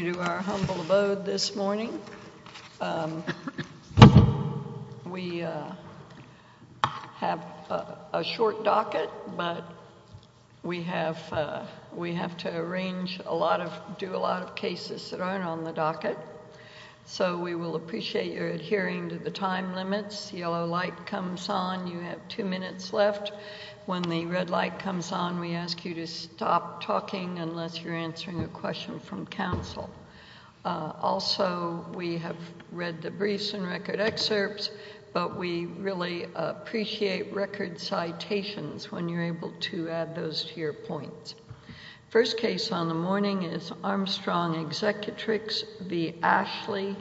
to our humble abode this morning. We have a short docket, but we have to arrange a lot of, do a lot of cases that aren't on the docket. So we will appreciate your adhering to the time limits. Yellow light comes on, you have two minutes left. When the red light comes on, we ask you to stop talking unless you're answering a question from counsel. Also, we have read the briefs and record excerpts, but we really appreciate record citations when you're able to add those to your points. First case on the morning is Armstrong Executrix v. Ashley,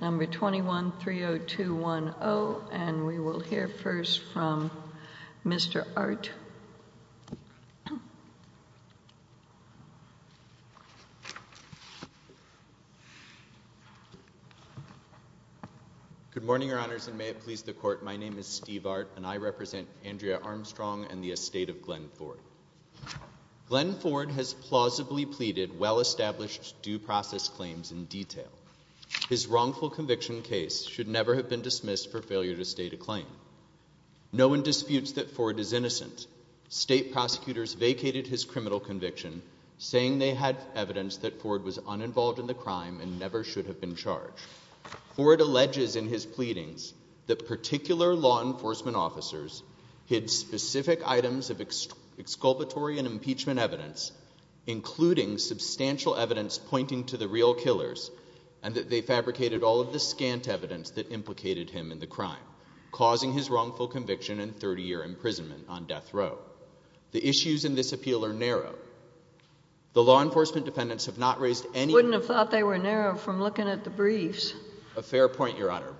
number 21-30210, and we will hear first from Mr. Art. Good morning, Your Honors, and may it please the Court, my name is Steve Art, and I represent Andrea Armstrong and the estate of Glenn Ford. Glenn Ford has plausibly pleaded well-established due process claims in detail. His wrongful conviction case should never have been dismissed for failure to state a claim. No one disputes that Ford is innocent. State prosecutors vacated his criminal conviction, saying they had evidence that Ford was uninvolved in the crime and never should have been charged. Ford alleges in his pleadings that particular law enforcement officers hid specific items of exculpatory and impeachment evidence, including substantial evidence pointing to the real killers, and that they fabricated all of the scant evidence that implicated him in the crime, causing his wrongful conviction and 30-year imprisonment on death row. The issues in this appeal are narrow. The law enforcement defendants have not raised any... Wouldn't have thought they were narrow from looking at the briefs. A fair point, Your Honor.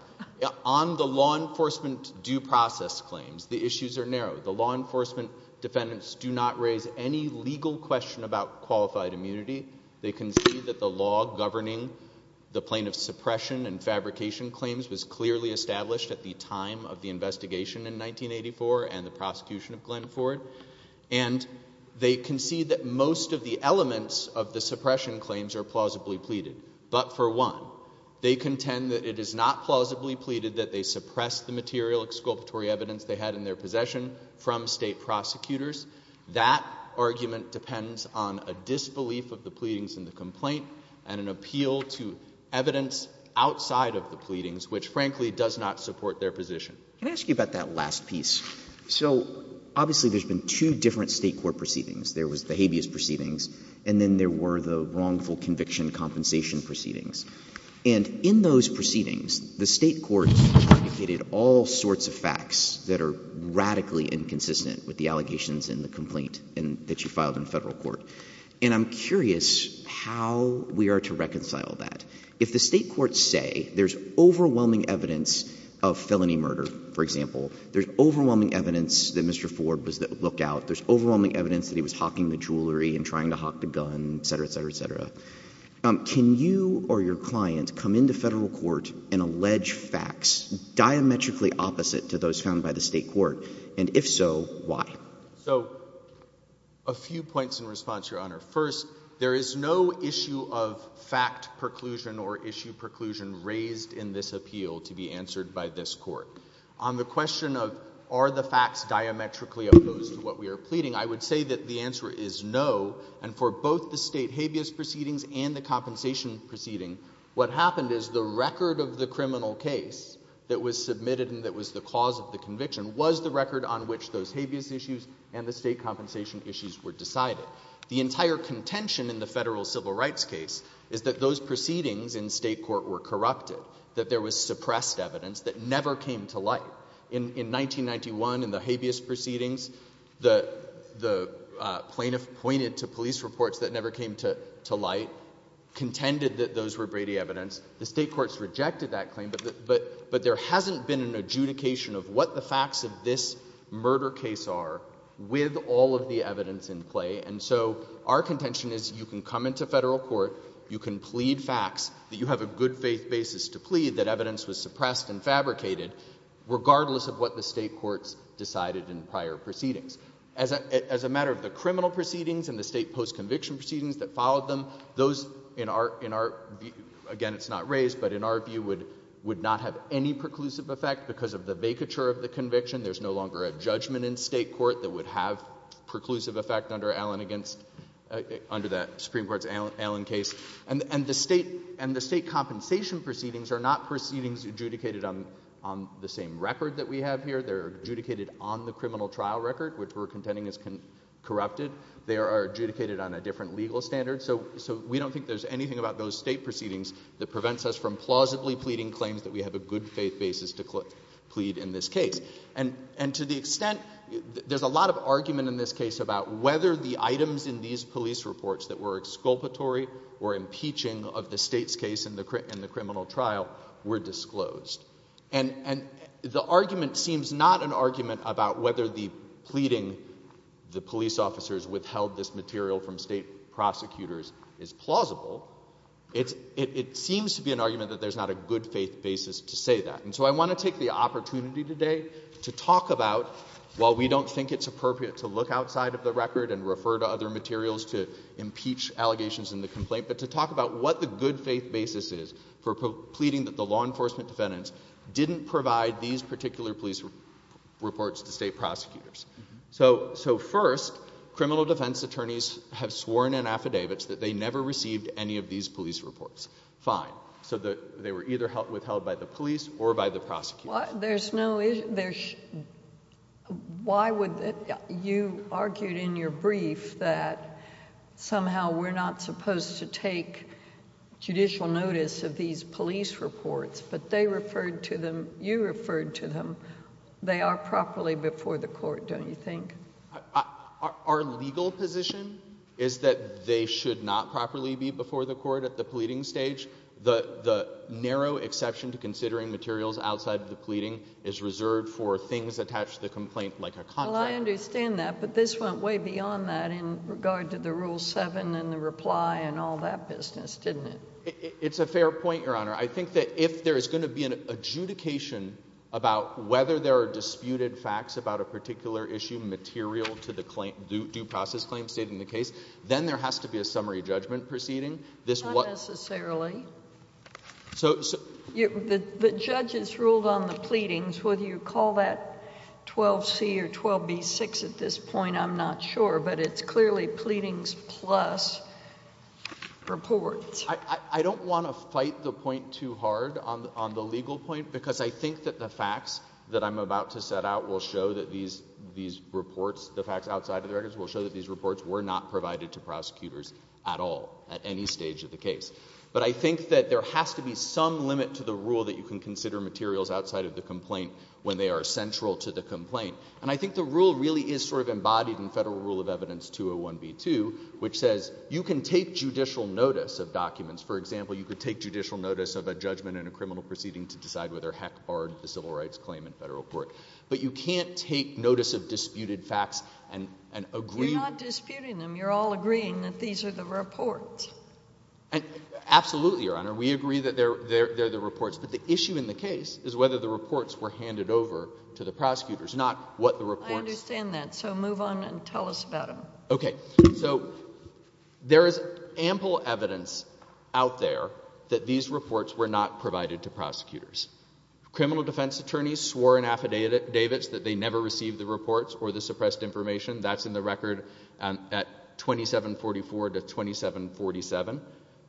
On the law enforcement due process claims, the issues are narrow. The law enforcement defendants do not raise any legal question about qualified immunity. They concede that the law governing the plaintiff's suppression and fabrication claims was clearly established at the time of the investigation in 1984 and the prosecution of Glenn Ford, and they concede that most of the elements of the suppression claims are plausibly pleaded. But for one, they contend that it is not plausibly pleaded that they suppressed the material exculpatory evidence they had in their possession from state prosecutors. That argument depends on a disbelief of the pleadings in the complaint and an appeal to evidence outside of the pleadings, which frankly does not support their position. Can I ask you about that last piece? So obviously there's been two different state court proceedings. There was the habeas proceedings, and then there were the wrongful conviction compensation proceedings. And in those proceedings, the state courts argued all sorts of facts that are radically inconsistent with the allegations in the complaint that you filed in federal court. And I'm curious how we are to reconcile that. If the state courts say there's overwhelming evidence of felony murder, for example, there's overwhelming evidence that Mr. Ford was the lookout, there's overwhelming evidence that he was hawking the jewelry and trying to hawk a gun, et cetera, et cetera, et cetera. Can you or your client come into federal court and allege facts diametrically opposite to those found by the state court? And if so, why? So a few points in response, Your Honor. First, there is no issue of fact preclusion or issue preclusion raised in this appeal to be answered by this court. On the question of are the facts diametrically opposed to what we are pleading, I would say that the answer is no. And for both the state habeas proceedings and the compensation proceeding, what happened is the record of the criminal case that was submitted and that was the cause of the conviction was the record on which those habeas issues and the state compensation issues were decided. The entire contention in the federal civil rights case is that those proceedings in state court were corrupted, that there was suppressed evidence that never came to light. In 1991, in the habeas proceedings, the plaintiff pointed to police reports that never came to light, contended that those were Brady evidence. The state courts rejected that claim, but there hasn't been an adjudication of what the facts of this murder case are with all of the evidence in play. And so our contention is you can come into federal court, you can plead facts, that you have a good faith basis to plead that evidence was suppressed and decided in prior proceedings. As a matter of the criminal proceedings and the state post-conviction proceedings that followed them, those in our, again it's not raised, but in our view would not have any preclusive effect because of the vacature of the conviction. There's no longer a judgment in state court that would have preclusive effect under Allen against, under that Supreme Court's Allen case. And the state compensation proceedings are not proceedings adjudicated on the same record that we have here. They're adjudicated on the criminal trial record, which we're contending is corrupted. They are adjudicated on a different legal standard. So we don't think there's anything about those state proceedings that prevents us from plausibly pleading claims that we have a good faith basis to plead in this case. And to the extent, there's a lot of argument in this case about whether the items in these police reports that were exculpatory or impeaching of the state's case in the criminal trial were disclosed. And, and the argument seems not an argument about whether the pleading the police officers withheld this material from state prosecutors is plausible. It's, it seems to be an argument that there's not a good faith basis to say that. And so I want to take the opportunity today to talk about, while we don't think it's appropriate to look outside of the record and refer to other materials to impeach allegations in the complaint, but to talk about what the good faith basis is for pleading that the law enforcement defendants didn't provide these particular police reports to state prosecutors. So, so first, criminal defense attorneys have sworn in affidavits that they never received any of these police reports. Fine. So the, they were either held, withheld by the police or by the prosecutor. There's no, there's, why would, you argued in your brief that somehow we're not supposed to take judicial notice of these police reports, but they referred to them, you referred to them. They are properly before the court, don't you think? Our legal position is that they should not properly be before the court at the pleading stage. The, the narrow exception to considering materials outside of the pleading is reserved for things attached to the complaint like a contract. Well, I understand that, but this went way beyond that in regard to the Rule 7 and the reply and all that business, didn't it? It's a fair point, Your Honor. I think that if there is going to be an adjudication about whether there are disputed facts about a particular issue material to the claim, due process claim stated in the case, then there has to be a summary judgment proceeding. Not necessarily. So, so. The, the judges ruled on the pleadings, whether you call that 12C or 12B6 at this point, I'm not sure, but it's clearly pleadings plus reports. I, I don't want to fight the point too hard on, on the legal point because I think that the facts that I'm about to set out will show that these, these reports, the facts outside of the records will show that these reports were not provided to prosecutors at all, at any stage of the case. But I think that there has to be some limit to the rule that you can consider materials outside of the complaint when they are central to the complaint. And I think the rule really is sort of embodied in Federal Rule of Evidence 201B2, which says you can take judicial notice of documents. For example, you could take judicial notice of a judgment in a criminal proceeding to decide whether, heck, barred the civil rights claim in federal court. But you can't take notice of disputed facts and, and agree. You're not disputing them. You're all agreeing that these are the reports. Absolutely, Your Honor. We agree that they're, they're, they're the reports. But the issue in the case is whether the reports were handed over to the prosecutors, not what the reports. I understand that. So move on and tell us about them. Okay. So there is ample evidence out there that these reports were not provided to prosecutors. Criminal defense attorneys swore in affidavits that they never received the reports or the suppressed information. That's in the record, um, at 2744 to 2747.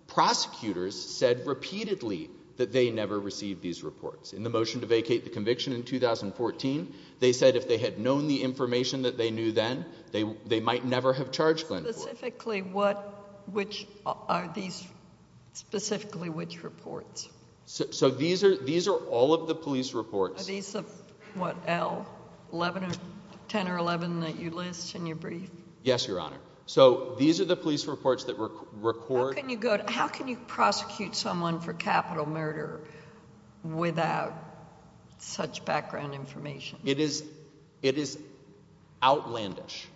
Prosecutors said repeatedly that they never received these reports. In the motion to vacate the conviction in 2014, they said if they had known the information that they knew then, they, they might never have charged Glenn. Specifically, what, which are these specifically, which reports? So these are, these are all of the police reports. These, uh, what l 11 or 10 or 11 that you list in your brief? Yes, Your Honor. So these are the police reports that were recorded. How can you prosecute someone for capital murder without such background information? It is it is outlandish.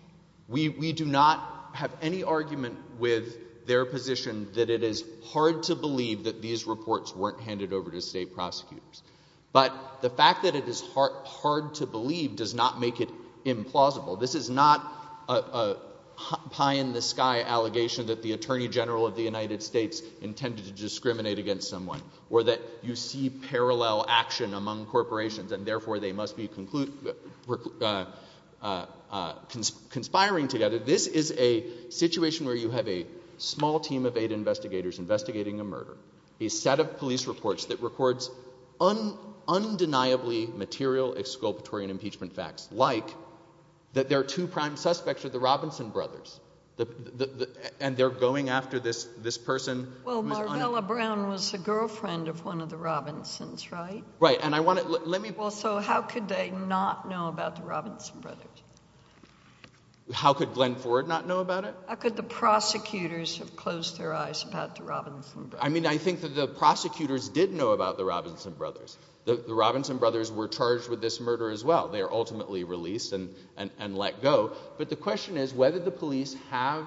We, we do not have any argument with their position that it is hard to believe that these reports weren't handed over to state prosecutors. But the fact that it is hard, hard to believe does not make it implausible. This is not a pie in the sky allegation that the attorney general of the United States intended to discriminate against someone or that you see parallel action among corporations and therefore they must be conclude, uh, uh, uh, conspiring together. This is a situation where you have a small team of eight investigators investigating a murder, a set of police reports that records on undeniably material exculpatory and impeachment facts like that. There are two prime suspects are the Robinson brothers and they're going after this, this person. Well, Marvella Brown was a girlfriend of one of the Robinson's, right? Right. And I want to let me also, how could they not know about the Robinson brothers? How could Glenn Ford not know about it? How could the prosecutors have closed their eyes about the Robinson? I mean, I think that the prosecutors did know about the Robinson brothers. The Robinson brothers were charged with this murder as well. They are ultimately released and, and, and let go. But the question is whether the police have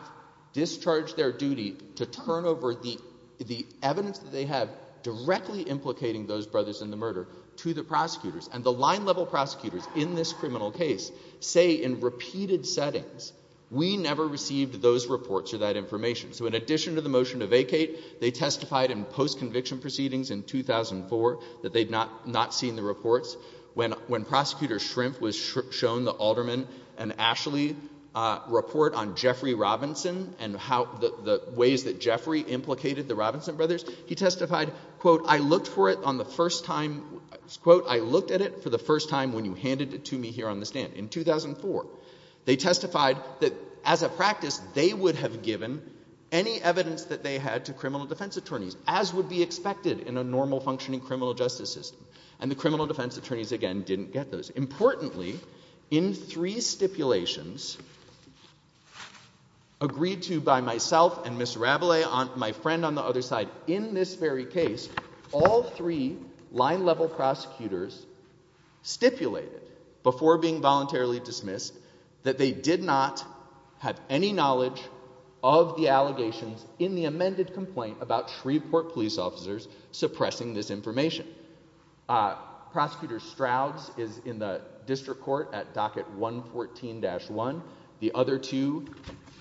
discharged their duty to turn over the, the evidence that they have directly implicating those brothers in the murder to the prosecutors and the line level prosecutors in this criminal case say in repeated settings, we never received those reports or that information. So in addition to the motion to vacate, they testified in post conviction proceedings in 2004 that they'd not, not seen the reports when, when prosecutor shrimp was shown the alderman and Ashley, uh, report on Jeffrey Robinson and how the ways that Jeffrey implicated the Robinson brothers, he testified, quote, I looked for it on the first time, quote, I looked at it for the first time when you handed it to me here on the stand in 2004, they testified that as a practice, they would have given any evidence that they had to criminal defense attorneys as would be expected in a normal functioning criminal justice system. And the criminal defense attorneys again, didn't get those importantly in three stipulations agreed to by myself and Mr. Rabelais on my friend on the other side in this very case, all three line level prosecutors stipulated before being voluntarily dismissed that they did not have any knowledge of the allegations in the amended complaint about Shreveport police officers suppressing this information. Prosecutor Stroud's is in the district court at docket one 14 dash one. The other two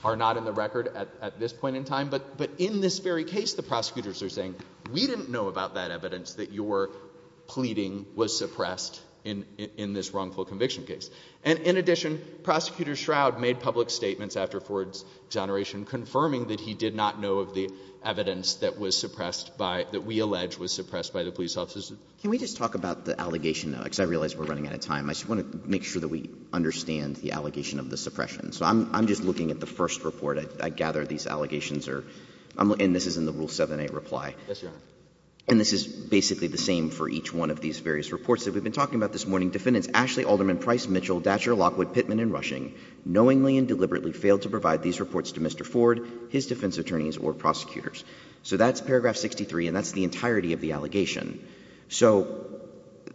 are not in the record at this point in time, but, but in this very case, the prosecutors are saying, we didn't know about that evidence that you were pleading was suppressed in, in this wrongful conviction case. And in addition, prosecutor shroud made public statements after exoneration confirming that he did not know of the evidence that was suppressed by that we allege was suppressed by the police officers. Can we just talk about the allegation now? Cause I realized we're running out of time. I just want to make sure that we understand the allegation of the suppression. So I'm, I'm just looking at the first report. I gather these allegations are, and this is in the rule seven, eight reply. And this is basically the same for each one of these various reports that we've been talking about this morning. Defendants, Ashley Alderman, price Mitchell, Datcher Lockwood, Pittman and rushing knowingly and deliberately failed to provide these reports to Mr. Ford, his defense attorneys or prosecutors. So that's paragraph 63 and that's the entirety of the allegation. So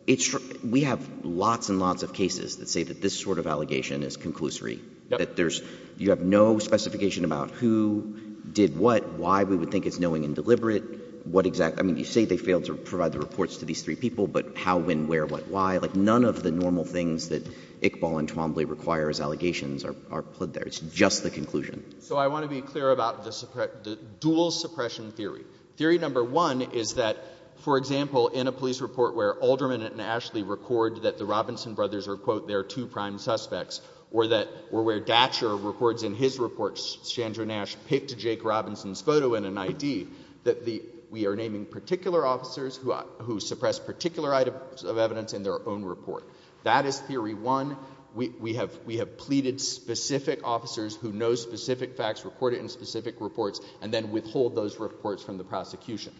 it's, we have lots and lots of cases that say that this sort of allegation is conclusory, that there's, you have no specification about who did what, why we would think it's knowing and deliberate. What exactly, I mean, you say they failed to provide the reports to these three people, but how, when, where, what, why, like none of the normal things that Iqbal and Twombly requires allegations are, are put there. It's just the conclusion. So I want to be clear about the suppress, the dual suppression theory. Theory number one is that for example, in a police report where Alderman and Ashley record that the Robinson brothers are quote their two prime suspects or that, or where Datcher records in his reports, Sandra Nash picked Jake Robinson's photo in an ID that the, we are naming particular officers who, who suppress particular items of evidence in their own report. That is theory one. We, we have, we have pleaded specific officers who know specific facts, recorded in specific reports and then withhold those reports from the prosecution.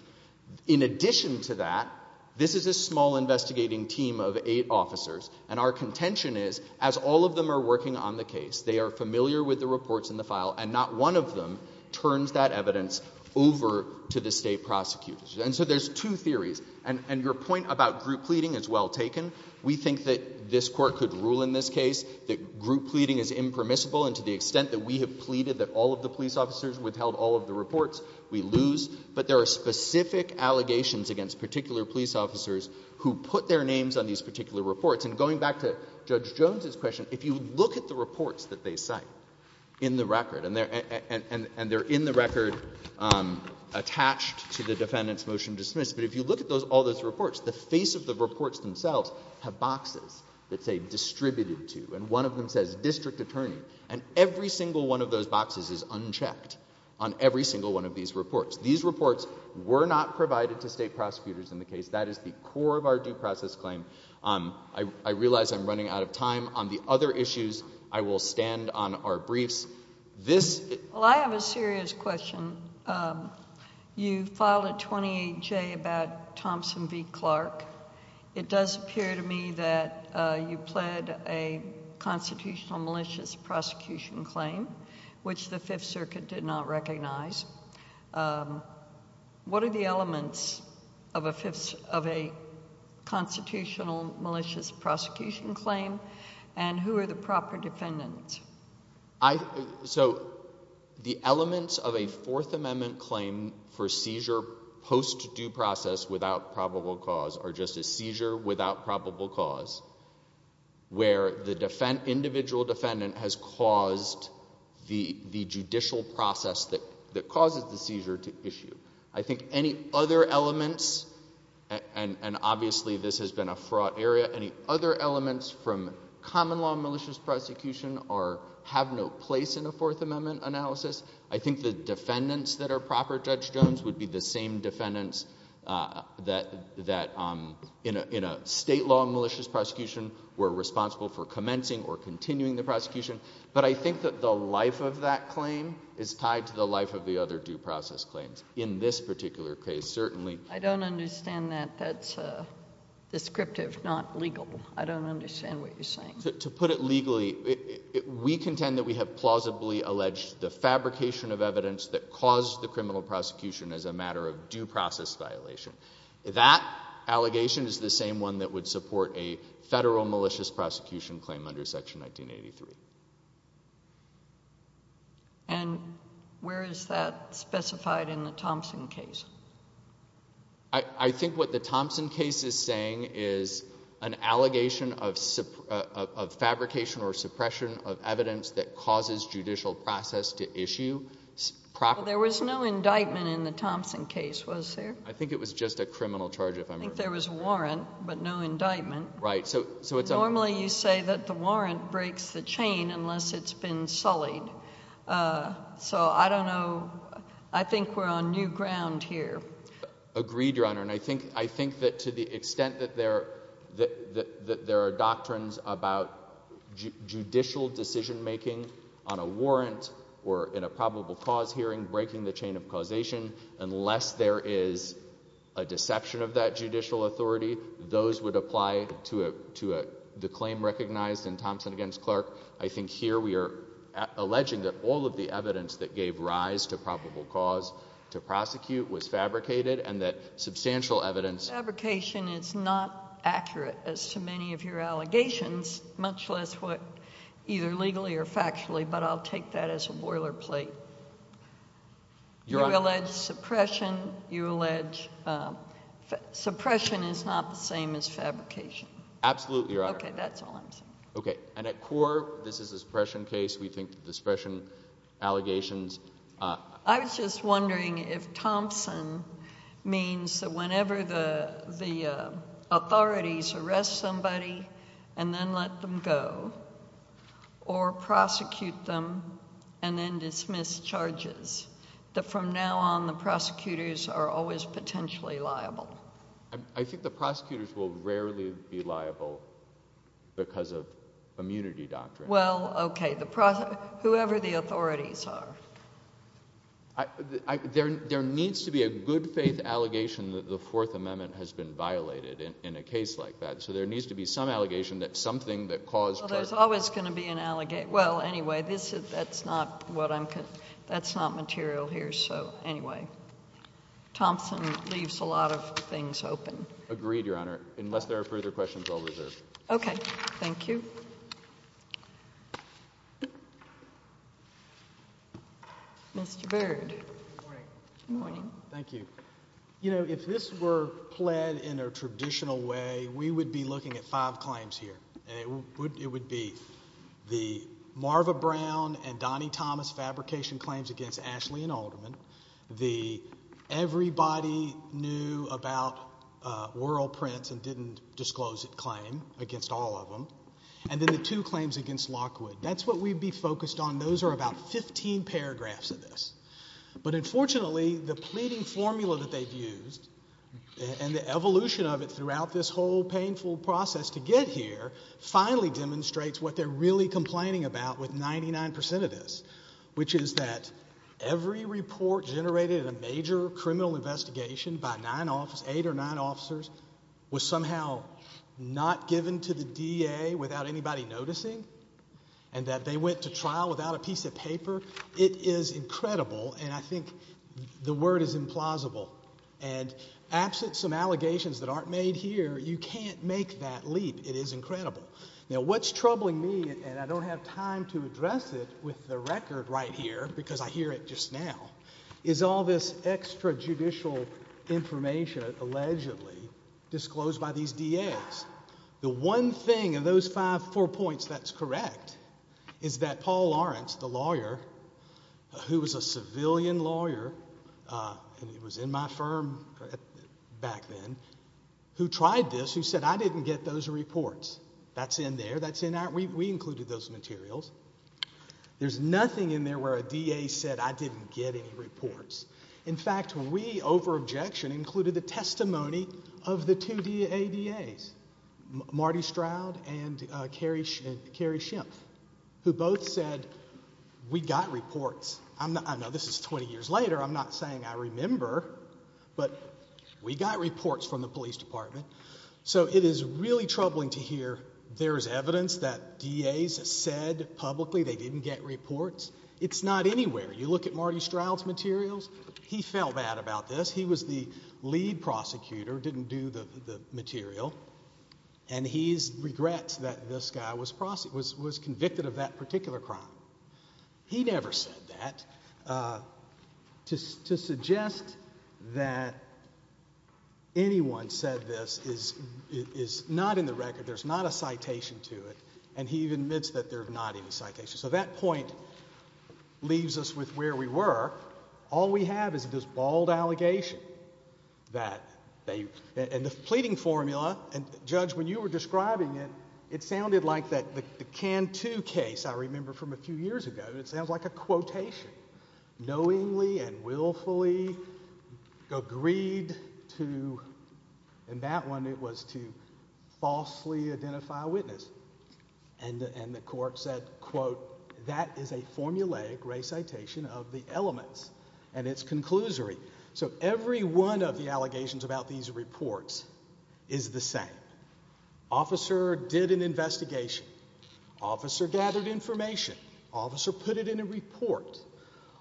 In addition to that, this is a small investigating team of eight officers and our contention is as all of them are working on the case, they are familiar with the reports in the file and not one of them turns that evidence over to the state prosecutors. And so there's two theories and, and your point about group pleading is well taken. We think that this court could rule in this case that group pleading is impermissible and to the extent that we have pleaded that all of the police officers withheld all of the reports we lose, but there are specific allegations against particular police officers who put their names on these particular reports. And going back to Judge Jones's question, if you look at the reports that they cite in the record and they're, and they're in the record attached to the defendant's motion dismissed, but if you look at those, all those reports, the face of the reports themselves have boxes that say distributed to, and one of them says district attorney and every single one of those boxes is unchecked on every single one of these reports. These reports were not provided to state prosecutors in the case. That is the core of our due process claim. Um, I, I realize I'm running out of time on the other issues. I will stand on our briefs. This, well, I have a serious question. Um, you filed a 28 J about Thompson v. Clark. It does appear to me that, uh, you pled a constitutional malicious prosecution claim, which the fifth circuit did not recognize. Um, what are the elements of a fifth, of a constitutional malicious prosecution claim and who are the proper defendants? I, so the elements of a fourth amendment claim for seizure post due process without probable cause are just a seizure without probable cause where the defend, individual defendant has caused the, the judicial process that, that causes the seizure to issue. I think any other elements, and obviously this has been a fraught area, any other elements from common law malicious prosecution or have no place in a fourth amendment analysis. I think the defendants that are proper judge Jones would be the same defendants, uh, that, that, um, in a, in a state law malicious prosecution, we're responsible for commencing or continuing the prosecution. But I think that the life of that claim is tied to the life of the other due process claims in this particular case. Certainly. I don't understand that. That's a descriptive, not legal. I don't understand what you're saying to put it legally. We contend that we have plausibly alleged the fabrication of evidence that caused the criminal prosecution as a matter of due process violation. That allegation is the same one that would support a federal malicious prosecution claim under section 1983. And where is that specified in the Thompson case? I think what the Thompson case is saying is an allegation of, of fabrication or suppression of evidence that causes judicial process to issue. There was no indictment in the Thompson case, was there? I think it was just a criminal charge. I think there was a warrant, but no indictment. Right. So, so it's normally you say that the warrant breaks the chain unless it's been sullied. So I don't know. I think we're on new ground here. Agreed, Your Honor. And I think, I think that to the extent that there, that, that, that there are doctrines about judicial decision-making on a warrant or in a probable cause hearing, breaking the chain of causation, unless there is a deception of that judicial authority, those would apply to a, to a, the claim recognized in Thompson against Clark. I think here we are alleging that all of the evidence that gave rise to probable cause to prosecute was fabricated and that substantial evidence. Fabrication is not accurate as to many of your allegations, much less what either legally or factually, but I'll take that as a boilerplate. Your Honor. You allege suppression. You allege suppression is not the same as fabrication. Absolutely, Your Honor. Okay. That's all I'm saying. Okay. And at core, this is a suppression case. We think that the suppression allegations. I was just wondering if Thompson means that whenever the, the authorities arrest somebody and then let them go or prosecute them and then dismiss charges, that from now on the prosecutors are always potentially liable. I, I think the prosecutors will rarely be liable because of immunity doctrine. Well, okay. The, whoever the authorities are. I, I, there, there needs to be a good faith allegation that the Fourth Amendment has been violated in, in a case like that. So there needs to be some allegation that something that caused. Well, there's always going to be an allegation. Well, anyway, this is, that's not what I'm, that's not material here. So anyway, Thompson leaves a lot of things open. Agreed, Your Honor. Unless there are further questions, I'll reserve. Okay. Thank you. Mr. Byrd. Good morning. Good morning. Thank you. You know, if this were pled in a traditional way, we would be looking at five claims here. And it would, it would be the Marva Brown and Donnie Thomas fabrication claims against Ashley and Alderman. The everybody knew about Whirl Prince and didn't disclose it claim against all of them. And then the two claims against Lockwood. That's what we'd be focused on. Those are about 15 paragraphs of this. But unfortunately, the pleading formula that they've used and the evolution of it throughout this whole painful process to get here finally demonstrates what they're really complaining about with 99% of this, which is that every report generated a major criminal investigation by nine office, eight or nine officers was somehow not given to the DA without anybody noticing. And that they went to trial without a piece of paper. It is incredible. And I think the word is implausible. And absent some allegations that aren't made here, you can't make that leap. It is incredible. Now, what's troubling me, and I don't have time to address it with the record right here because I hear it just now, is all this extra judicial information allegedly disclosed by these DAs. The one thing in those five, four points that's correct is that Paul Lawrence, the lawyer, who was a civilian lawyer, and he was in my firm back then, who tried this, who said, I didn't get those reports. That's in there. That's in our, we included those materials. There's nothing in there where a DA said, I didn't get any reports. In fact, we, over objection, included the testimony of the two ADAs, Marty Stroud and Kerry Schimpf, who both said, we got reports. I know this is 20 years later. I'm not saying I remember. But we got reports from the police department. So it is really troubling to hear there is evidence that DAs said publicly they didn't get reports. It's not anywhere. You look at Marty Stroud's materials. He felt bad about this. He was the lead prosecutor, didn't do the material. And he regrets that this guy was convicted of that particular crime. He never said that. To suggest that anyone said this is not in the record. There's not a citation to it. And he admits that they're not in the citation. So that point leaves us with where we were. All we have is this bald allegation that they, and the pleading formula, and Judge, when you were describing it, it sounded like that the Cantu case, I remember from a few years ago, it sounds like a quotation, knowingly and willfully agreed to, and that one, it was to falsely identify a witness. And the court said, quote, that is a formulaic recitation of the elements and its conclusory. So every one of the allegations about these reports is the same. Officer did an investigation. Officer gathered information. Officer put it in a report.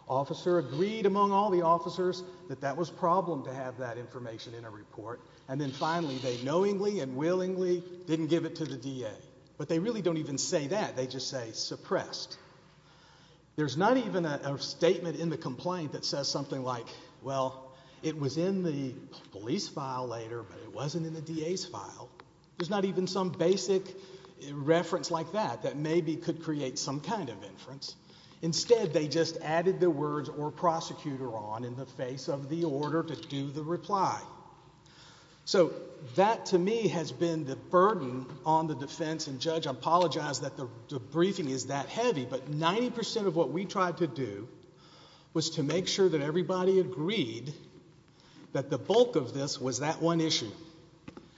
Officer agreed among all the officers that that was problem to have that information in a report. And then finally, they really don't even say that. They just say suppressed. There's not even a statement in the complaint that says something like, well, it was in the police file later, but it wasn't in the DA's file. There's not even some basic reference like that that maybe could create some kind of inference. Instead, they just added the words or prosecutor on in the face of the order to do the reply. So that, to me, has been the burden on the defense and judge. I apologize that the briefing is that heavy, but 90 percent of what we tried to do was to make sure that everybody agreed that the bulk of this was that one issue.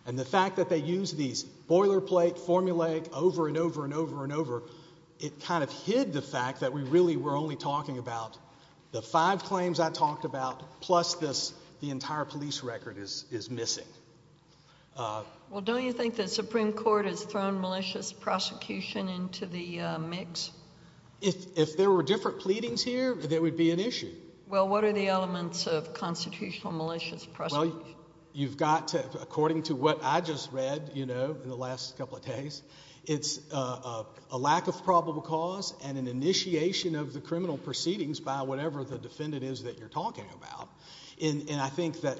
And the fact that they used these boilerplate formulaic over and over and over and over, it kind of hid the fact that we really were only talking about the five claims I talked about, plus the entire police record is missing. Well, don't you think the Supreme Court has thrown malicious prosecution into the mix? If there were different pleadings here, there would be an issue. Well, what are the elements of constitutional malicious prosecution? You've got to, according to what I just read in the last couple of days, it's a lack of probable cause and an initiation of the criminal proceedings by whatever the defendant is that you're talking about. And I think that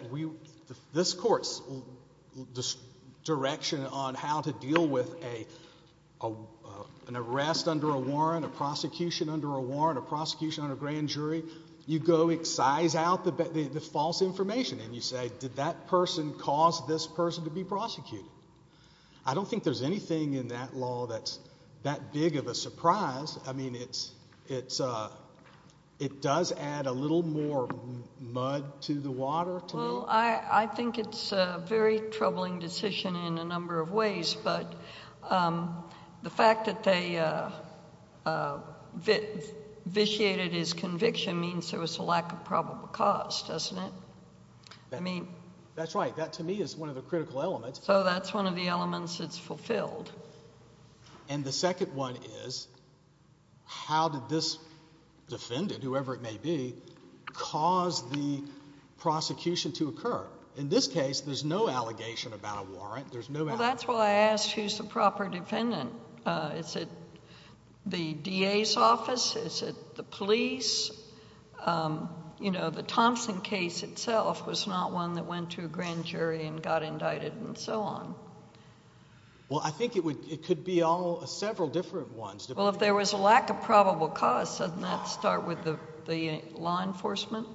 this Court's direction on how to deal with an arrest under a warrant, a prosecution under a warrant, a prosecution under a grand jury, you go excise out the false information and you say, did that person cause this person to be surprised? I mean, it does add a little more mud to the water. Well, I think it's a very troubling decision in a number of ways, but the fact that they vitiated his conviction means there was a lack of probable cause, doesn't it? That's right. That, to me, is one of the critical elements. So that's one of the elements that's fulfilled. And the second one is, how did this defendant, whoever it may be, cause the prosecution to occur? In this case, there's no allegation about a warrant. There's no— Well, that's why I asked who's the proper defendant. Is it the DA's office? Is it the police? You know, the Thompson case itself was not one that went to a grand jury and got indicted and so on. Well, I think it could be several different ones. Well, if there was a lack of probable cause, doesn't that start with the law enforcement?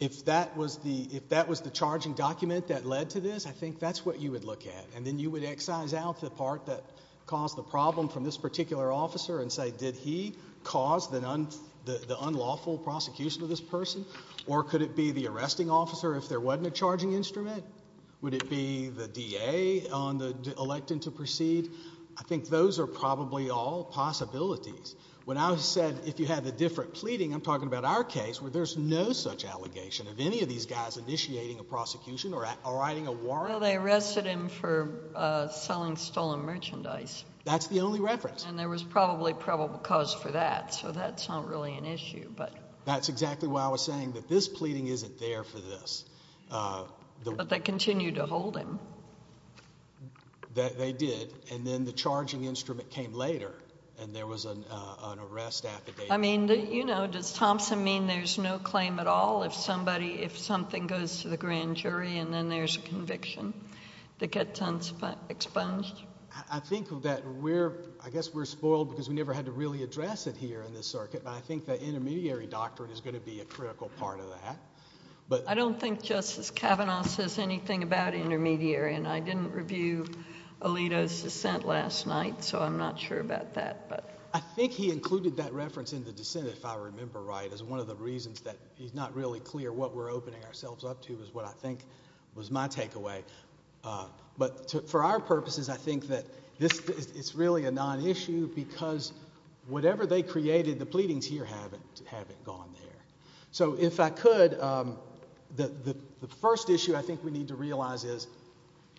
If that was the charging document that led to this, I think that's what you would look at. And then you would excise out the part that caused the problem from this particular officer and say, did he cause the unlawful prosecution of this person? Or could it be the arresting officer if there wasn't a charging instrument? Would it be the DA on the electing to proceed? I think those are probably all possibilities. When I said, if you had a different pleading, I'm talking about our case, where there's no such allegation of any of these guys initiating a prosecution or writing a warrant. Well, they arrested him for selling stolen merchandise. That's the only reference. And there was probably probable cause for that, so that's not really an issue, but— That's exactly why I was saying that this pleading isn't there for this. But they continued to hold him. They did. And then the charging instrument came later, and there was an arrest affidavit. I mean, you know, does Thompson mean there's no claim at all if somebody, if something goes to the grand jury and then there's a conviction that gets expunged? I think that we're—I guess we're spoiled because we never had to really address it here in this circuit, but I think the intermediary doctrine is going to be a critical part of that. I don't think Justice Kavanaugh says anything about intermediary, and I didn't review Alito's dissent last night, so I'm not sure about that, but— I think he included that reference in the dissent, if I remember right, as one of the reasons that he's not really clear what we're opening ourselves up to is what I think was my takeaway. But for our purposes, I think that this is really a non-issue because whatever they created, the pleadings here haven't gone there. So if I could, the first issue I think we need to realize is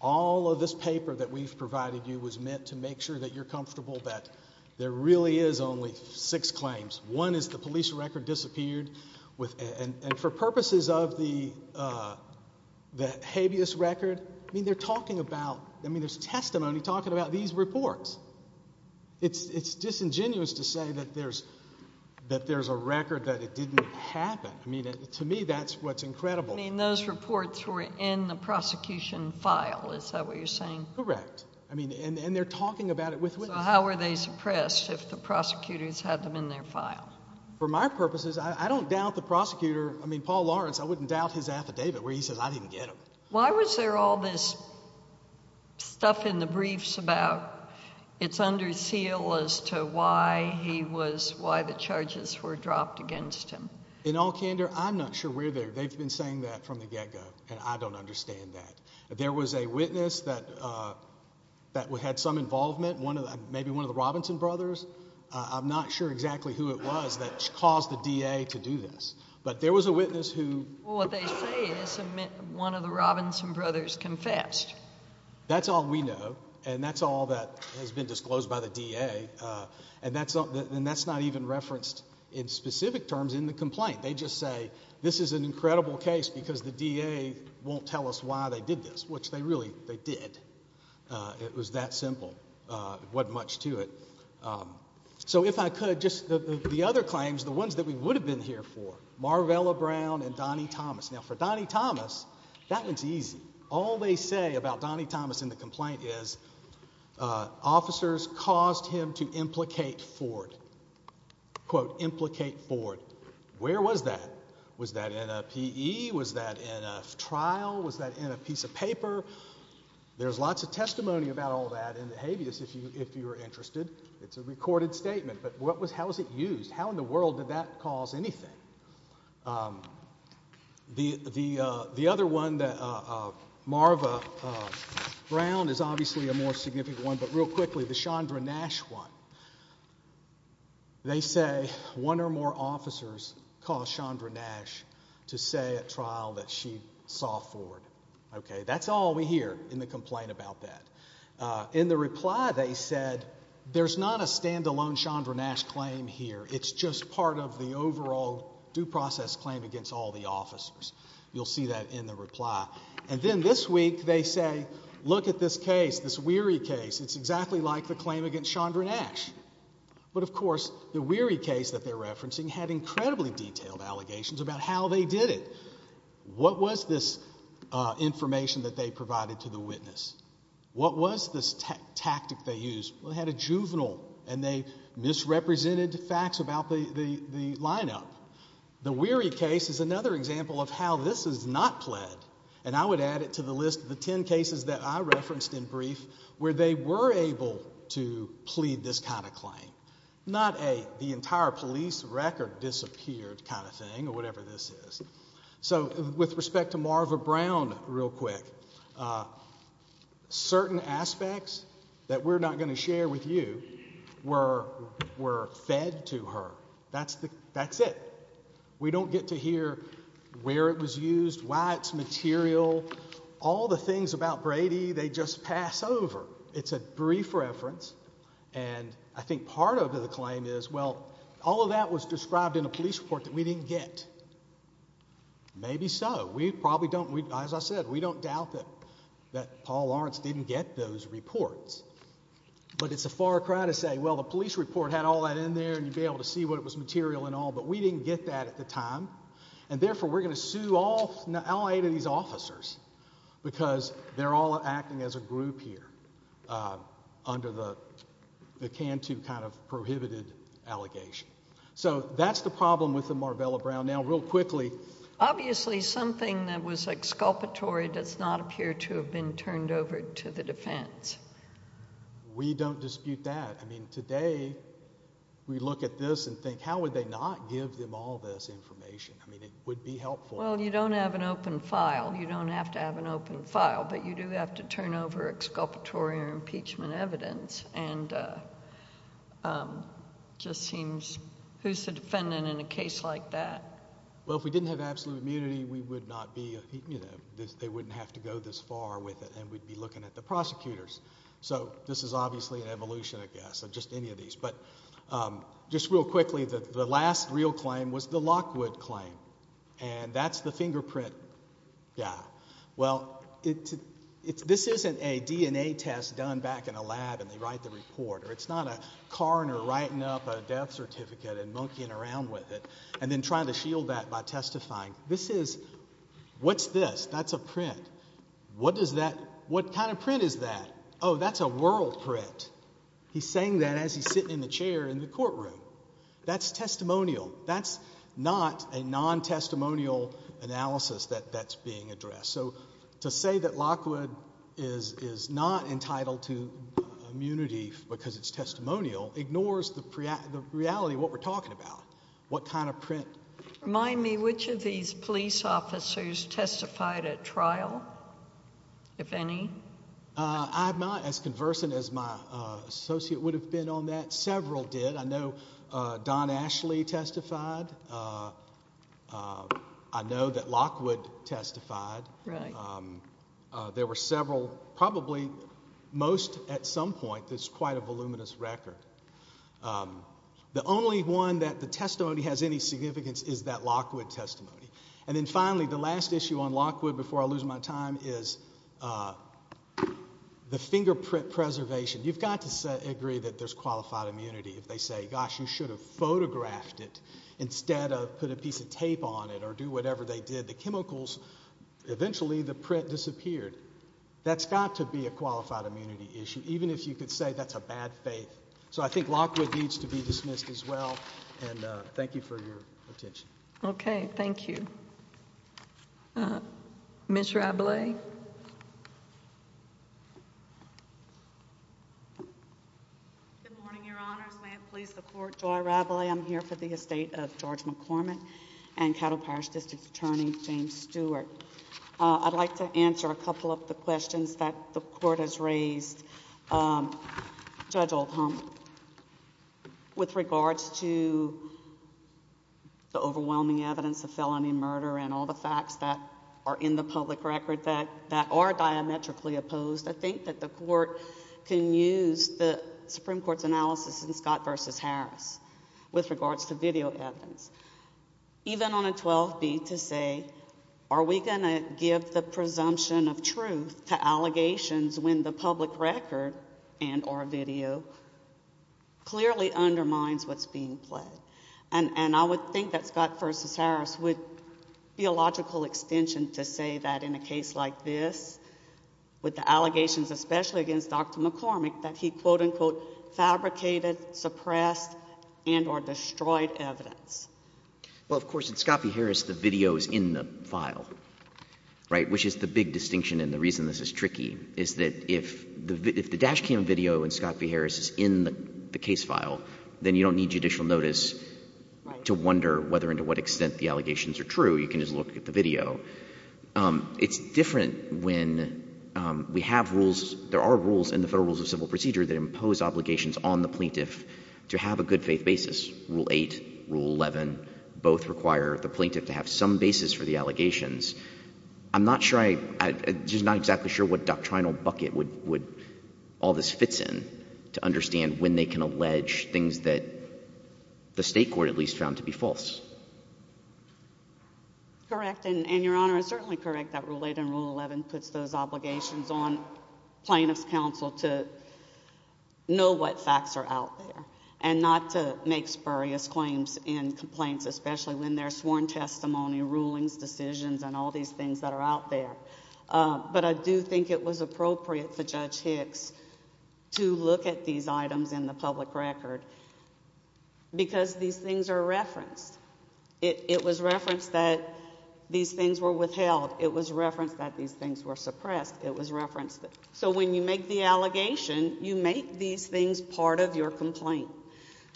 all of this paper that we've provided you was meant to make sure that you're comfortable that there really is only six claims. One is the police record disappeared, and for purposes of the habeas record, I mean, they're talking about—I mean, there's testimony talking about these reports. It's disingenuous to say that there's a record that it didn't happen. I mean, to me, that's what's incredible. I mean, those reports were in the prosecution file. Is that what you're saying? Correct. I mean, and they're talking about it with witnesses. So how were they suppressed if the prosecutors had them in their file? For my purposes, I don't doubt the prosecutor. I mean, Paul Lawrence, I wouldn't doubt his affidavit where he says, I didn't get them. Why was there all this stuff in the briefs about it's under seal as to why he was—why the charges were dropped against him? In all candor, I'm not sure where they're—they've been saying that from the get-go, and I don't understand that. There was a witness that had some involvement, maybe one of the Robinson brothers. I'm not sure exactly who it was that caused the DA to do this. But there was a witness who— One of the Robinson brothers confessed. That's all we know. And that's all that has been disclosed by the DA. And that's not even referenced in specific terms in the complaint. They just say, this is an incredible case because the DA won't tell us why they did this, which they really—they did. It was that simple. It wasn't much to it. So if I could, just the other claims, the ones that we would have been here for, Marvella Brown and Donnie Thomas. Now, for Donnie Thomas, that one's easy. All they say about Donnie Thomas in the complaint is, officers caused him to implicate Ford. Quote, implicate Ford. Where was that? Was that in a PE? Was that in a trial? Was that in a piece of paper? There's lots of testimony about all that in the habeas, if you're interested. It's a recorded statement. But what was—how was it used? How in the world did that cause anything? The other one that Marvella Brown is obviously a more significant one, but real quickly, the Chandra Nash one. They say, one or more officers caused Chandra Nash to say at trial that she saw Ford. Okay, that's all we hear in the complaint about that. In the reply, they said, there's not a standalone Chandra Nash claim here. It's just part of the overall due process claim against all the officers. You'll see that in the reply. And then this week, they say, look at this case, this weary case. It's exactly like the claim against Chandra Nash. But of course, the weary case that they're referencing had incredibly detailed allegations about how they did it. What was this information that they provided to the witness? What was this tactic they used? They had a juvenile, and they misrepresented facts about the lineup. The weary case is another example of how this is not pled. And I would add it to the list of the 10 cases that I referenced in brief, where they were able to plead this kind of claim. Not a, the entire police record disappeared kind of thing, or whatever this is. So with respect to Marvella Brown, real quick, certain aspects that we're not going to share with you were fed to her. That's it. We don't get to hear where it was used, why it's material. All the things about Brady, they just pass over. It's a brief reference. And I think part of the claim is, well, all of that was described in a police report that we didn't get. Maybe so. As I said, we don't doubt that Paul Lawrence didn't get those reports. But it's a far cry to say, well, the police report had all that in there, and you'd be able to see what was material and all. But we didn't get that at the time. And therefore, we're going to sue all eight of these officers, because they're all acting as a group here, under the Cantu kind of prohibited allegation. So that's the problem with the Marvella Brown. Now, real quickly... Obviously, something that was exculpatory does not appear to have been turned over to the defense. We don't dispute that. I mean, today, we look at this and think, how would they not give them all this information? I mean, it would be helpful. Well, you don't have an open file. You don't have to have an open file. But you do have to turn over exculpatory or impeachment evidence. And it just seems... Who's the defendant in a case like that? Well, if we didn't have absolute immunity, we would not be... They wouldn't have to go this far with it, and we'd be looking at the prosecutors. So this is obviously an evolution, I guess, of just any of these. But just real quickly, the last real claim was the Lockwood claim. And that's the fingerprint. Yeah. Well, this isn't a DNA test done back in a lab and they write the report. Or it's not a coroner writing up a death certificate and monkeying around with it and then trying to shield that by testifying. This is... What's this? That's a print. What does that... What kind of print is that? Oh, that's a world print. He's saying that as he's sitting in the chair in the courtroom. That's testimonial. That's not a non-testimonial analysis that's being addressed. To say that Lockwood is not entitled to immunity because it's testimonial ignores the reality of what we're talking about. What kind of print... Remind me, which of these police officers testified at trial, if any? I'm not as conversant as my associate would have been on that. Several did. I know Don Ashley testified. I know that Lockwood testified. Right. There were several. Probably most at some point. It's quite a voluminous record. The only one that the testimony has any significance is that Lockwood testimony. And then finally, the last issue on Lockwood, before I lose my time, is the fingerprint preservation. You've got to agree that there's qualified immunity. If they say, gosh, you should have photographed it instead of put a piece of tape on it or do whatever they did, the chemicals, eventually the print disappeared. That's got to be a qualified immunity issue. Even if you could say that's a bad faith. So I think Lockwood needs to be dismissed as well. And thank you for your attention. Okay. Thank you. Ms. Rabelais? Good morning, Your Honors. May it please the Court, Joy Rabelais. I'm here for the estate of George McCormick and Cattle Parish District Attorney James Stewart. I'd like to answer a couple of the questions that the Court has raised. Judge Oldham, with regards to the overwhelming evidence of felony murder and all the facts that are in the public record that are diametrically opposed, I think that the Court can use the evidence, with regards to video evidence, even on a 12B, to say, are we going to give the presumption of truth to allegations when the public record and or video clearly undermines what's being pledged? And I would think that Scott v. Harris would be a logical extension to say that in a case like this, with the allegations, especially against Dr. McCormick, that he, quote, unquote, fabricated, suppressed, and or destroyed evidence. Well, of course, in Scott v. Harris, the video is in the file, right, which is the big distinction and the reason this is tricky, is that if the dash cam video in Scott v. Harris is in the case file, then you don't need judicial notice to wonder whether and to what extent the allegations are true. You can just look at the video. It's different when we have rules, there are rules in the Federal Rules of Civil Procedure that impose obligations on the plaintiff to have a good faith basis. Rule 8, Rule 11, both require the plaintiff to have some basis for the allegations. I'm not sure, I'm just not exactly sure what doctrinal bucket would all this fits in to understand when they can allege things that the state court at least found to be false. Correct, and Your Honor, it's certainly correct that Rule 8 and Rule 11 puts those obligations on plaintiff's counsel to know what facts are out there and not to make spurious claims in complaints, especially when there's sworn testimony, rulings, decisions, and all these things that are out there. But I do think it was appropriate for Judge Hicks to look at these items in the public record because these things are referenced. It was referenced that these things were withheld. It was referenced that these things were suppressed. It was referenced. So when you make the allegation, you make these things part of your complaint.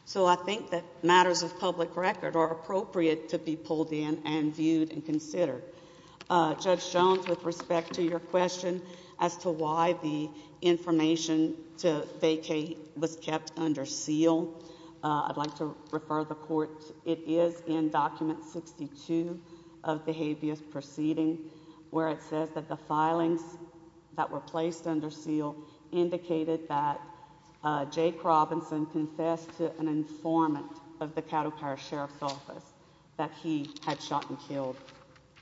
So I think that matters of public record are appropriate to be pulled in and viewed and considered. Judge Jones, with respect to your question as to why the information to vacate was kept under seal, I'd like to refer the court. It is in Document 62 of the habeas proceeding where it says that the filings that were placed under seal indicated that Jake Robinson confessed to an informant of the Caddo Power Sheriff's Office that he had shot and killed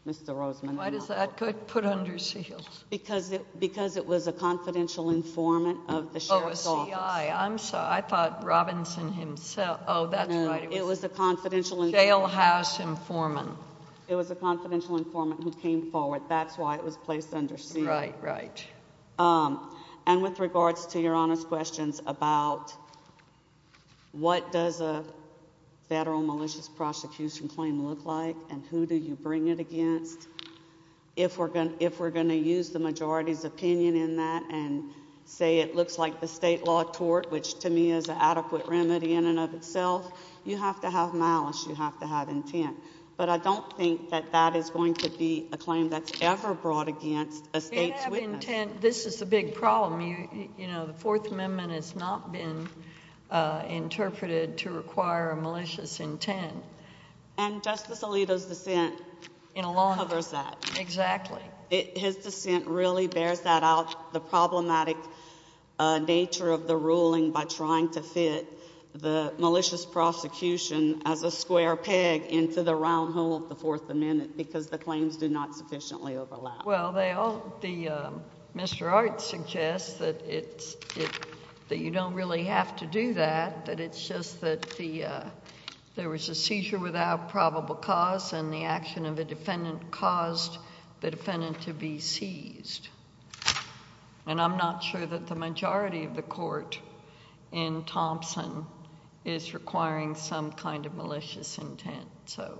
Mr. Roseman. Why does that get put under seal? Because it was a confidential informant of the Sheriff's Office. Oh, a CI. I'm sorry. I thought Robinson himself. Oh, that's right. It was a confidential informant. Jailhouse informant. It was a confidential informant who came forward. That's why it was placed under seal. Right, right. And with regards to your Honor's questions about what does a federal malicious prosecution claim look like and who do you bring it against? If we're going to use the majority's opinion in that and say it looks like the state law which to me is an adequate remedy in and of itself, you have to have malice. You have to have intent. But I don't think that that is going to be a claim that's ever brought against a state's witness. This is the big problem. The Fourth Amendment has not been interpreted to require a malicious intent. And Justice Alito's dissent covers that. Exactly. His dissent really bears that out. The problematic nature of the ruling by trying to fit the malicious prosecution as a square peg into the round hole of the Fourth Amendment because the claims do not sufficiently overlap. Well, they all, the, Mr. Art suggests that it's, that you don't really have to do that. That it's just that the, there was a seizure without probable cause and the action of a defendant to be seized. And I'm not sure that the majority of the court in Thompson is requiring some kind of malicious intent. So.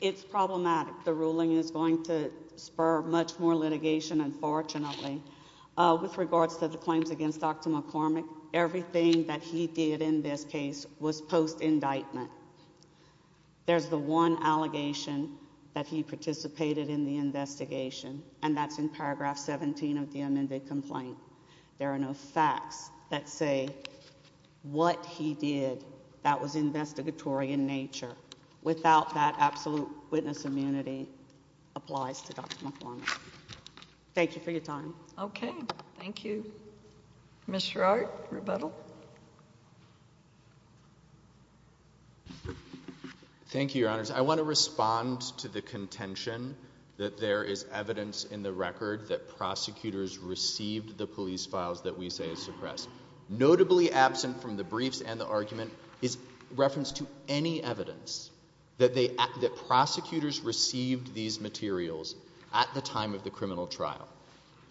It's problematic. The ruling is going to spur much more litigation, unfortunately. With regards to the claims against Dr. McCormick, everything that he did in this case was post indictment. There's the one allegation that he participated in the investigation, and that's in Paragraph 17 of the amended complaint. There are no facts that say what he did that was investigatory in nature without that absolute witness immunity applies to Dr. McCormick. Thank you for your time. Okay. Thank you, Mr. Art. Rebuttal. Thank you, Your Honors. I want to respond to the contention that there is evidence in the record that prosecutors received the police files that we say is suppressed. Notably absent from the briefs and the argument is reference to any evidence that they, that prosecutors received these materials at the time of the criminal trial.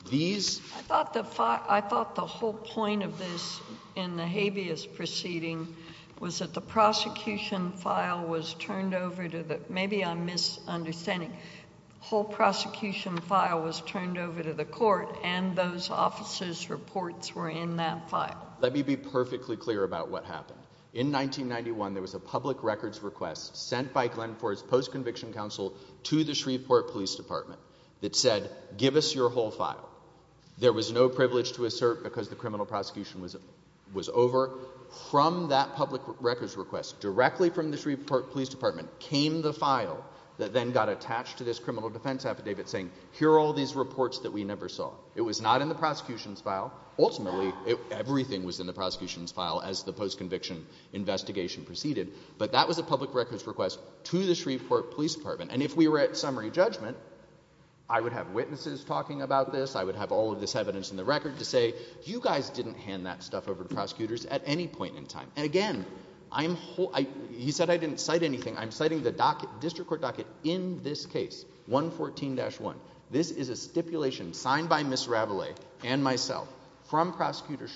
These. I thought the, I thought the whole point of this in the habeas proceeding was that the prosecution file was turned over to the, maybe I'm misunderstanding, whole prosecution file was turned over to the court and those officers' reports were in that file. Let me be perfectly clear about what happened. In 1991, there was a public records request sent by Glenn Ford's post-conviction counsel to the Shreveport Police Department that said, give us your whole file. There was no privilege to assert because the criminal prosecution was over. From that public records request directly from the Shreveport Police Department came the file that then got attached to this criminal defense affidavit saying, here are all these reports that we never saw. It was not in the prosecution's file. Ultimately, everything was in the prosecution's file as the post-conviction investigation proceeded. But that was a public records request to the Shreveport Police Department. And if we were at summary judgment, I would have witnesses talking about this. I would have all of this evidence in the record to say, you guys didn't hand that stuff over to prosecutors at any point in time. And again, he said I didn't cite anything. I'm citing the district court docket in this case, 114-1. This is a stipulation signed by Ms. Ravele and myself from Prosecutor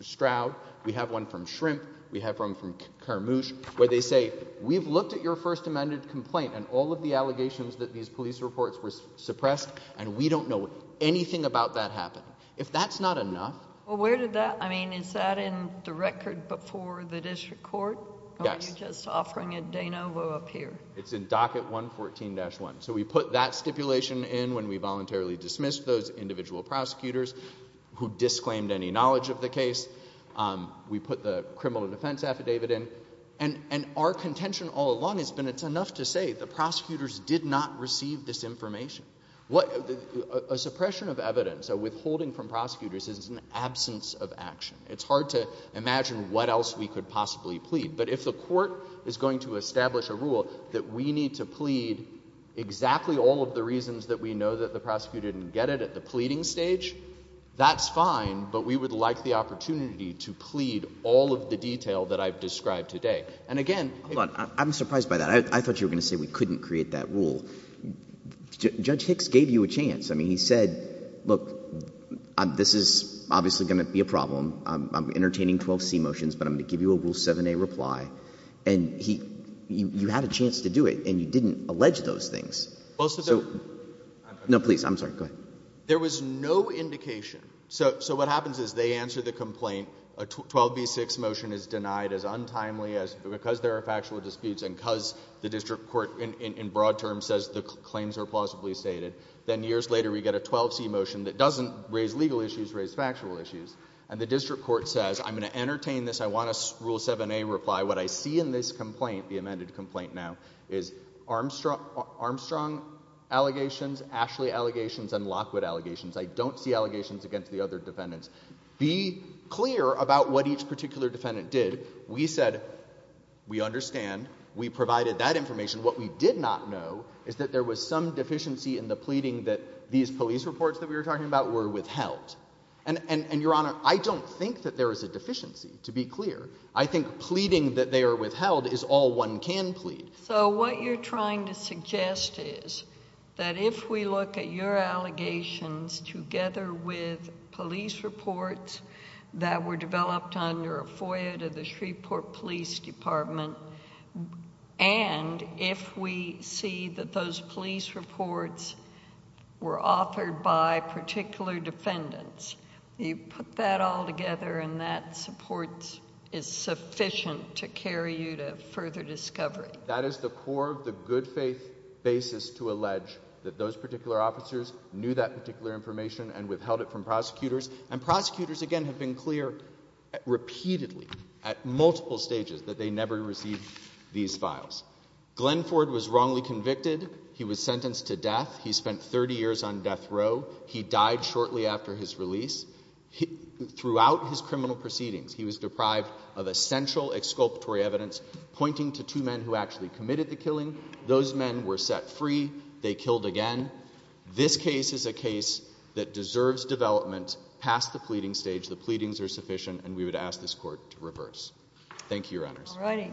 Stroud. We have one from Shrimp. We have one from Carmouche where they say, we've looked at your First Amendment complaint and all of the allegations that these police reports were suppressed and we don't know anything about that happening. If that's not enough. Well, where did that, I mean, is that in the record before the district court? Yes. Or are you just offering it de novo up here? It's in docket 114-1. So we put that stipulation in when we voluntarily dismissed those individual prosecutors who disclaimed any knowledge of the case. We put the criminal defense affidavit in. And our contention all along has been, it's enough to say the prosecutors did not receive this information. What a suppression of evidence, a withholding from prosecutors is an absence of action. It's hard to imagine what else we could possibly plead. But if the court is going to establish a rule that we need to plead exactly all of the reasons that we know that the prosecutor didn't get it at the pleading stage, that's fine. But we would like the opportunity to plead all of the detail that I've described today. And again, I'm surprised by that. I thought you were going to say we couldn't create that rule. Judge Hicks gave you a chance. I mean, he said, look, this is obviously going to be a problem. I'm entertaining 12C motions. But I'm going to give you a rule 7A reply. And you had a chance to do it. And you didn't allege those things. Most of them. No, please. I'm sorry. Go ahead. There was no indication. So what happens is they answer the complaint. A 12B6 motion is denied as untimely as because there are factual disputes and because the district court, in broad terms, says the claims are plausibly stated. Then years later, we get a 12C motion that doesn't raise legal issues, raise factual issues. And the district court says, I'm going to entertain this. I want a rule 7A reply. What I see in this complaint, the amended complaint now, is Armstrong allegations, Ashley allegations, and Lockwood allegations. I don't see allegations against the other defendants. Be clear about what each particular defendant did. We said, we understand. We provided that information. What we did not know is that there was some deficiency in the pleading that these police reports that we were talking about were withheld. And your honor, I don't think that there is a deficiency, to be clear. I think pleading that they are withheld is all one can plead. So what you're trying to suggest is that if we look at your allegations together with FOIA to the Shreveport Police Department, and if we see that those police reports were authored by particular defendants, you put that all together and that support is sufficient to carry you to further discovery. That is the core of the good faith basis to allege that those particular officers knew And prosecutors, again, have been clear repeatedly at multiple stages that they never received these files. Glenn Ford was wrongly convicted. He was sentenced to death. He spent 30 years on death row. He died shortly after his release. Throughout his criminal proceedings, he was deprived of essential exculpatory evidence pointing to two men who actually committed the killing. Those men were set free. They killed again. This case is a case that deserves development past the pleading stage. The pleadings are sufficient, and we would ask this court to reverse. Thank you, Your Honors. All righty. Thank you.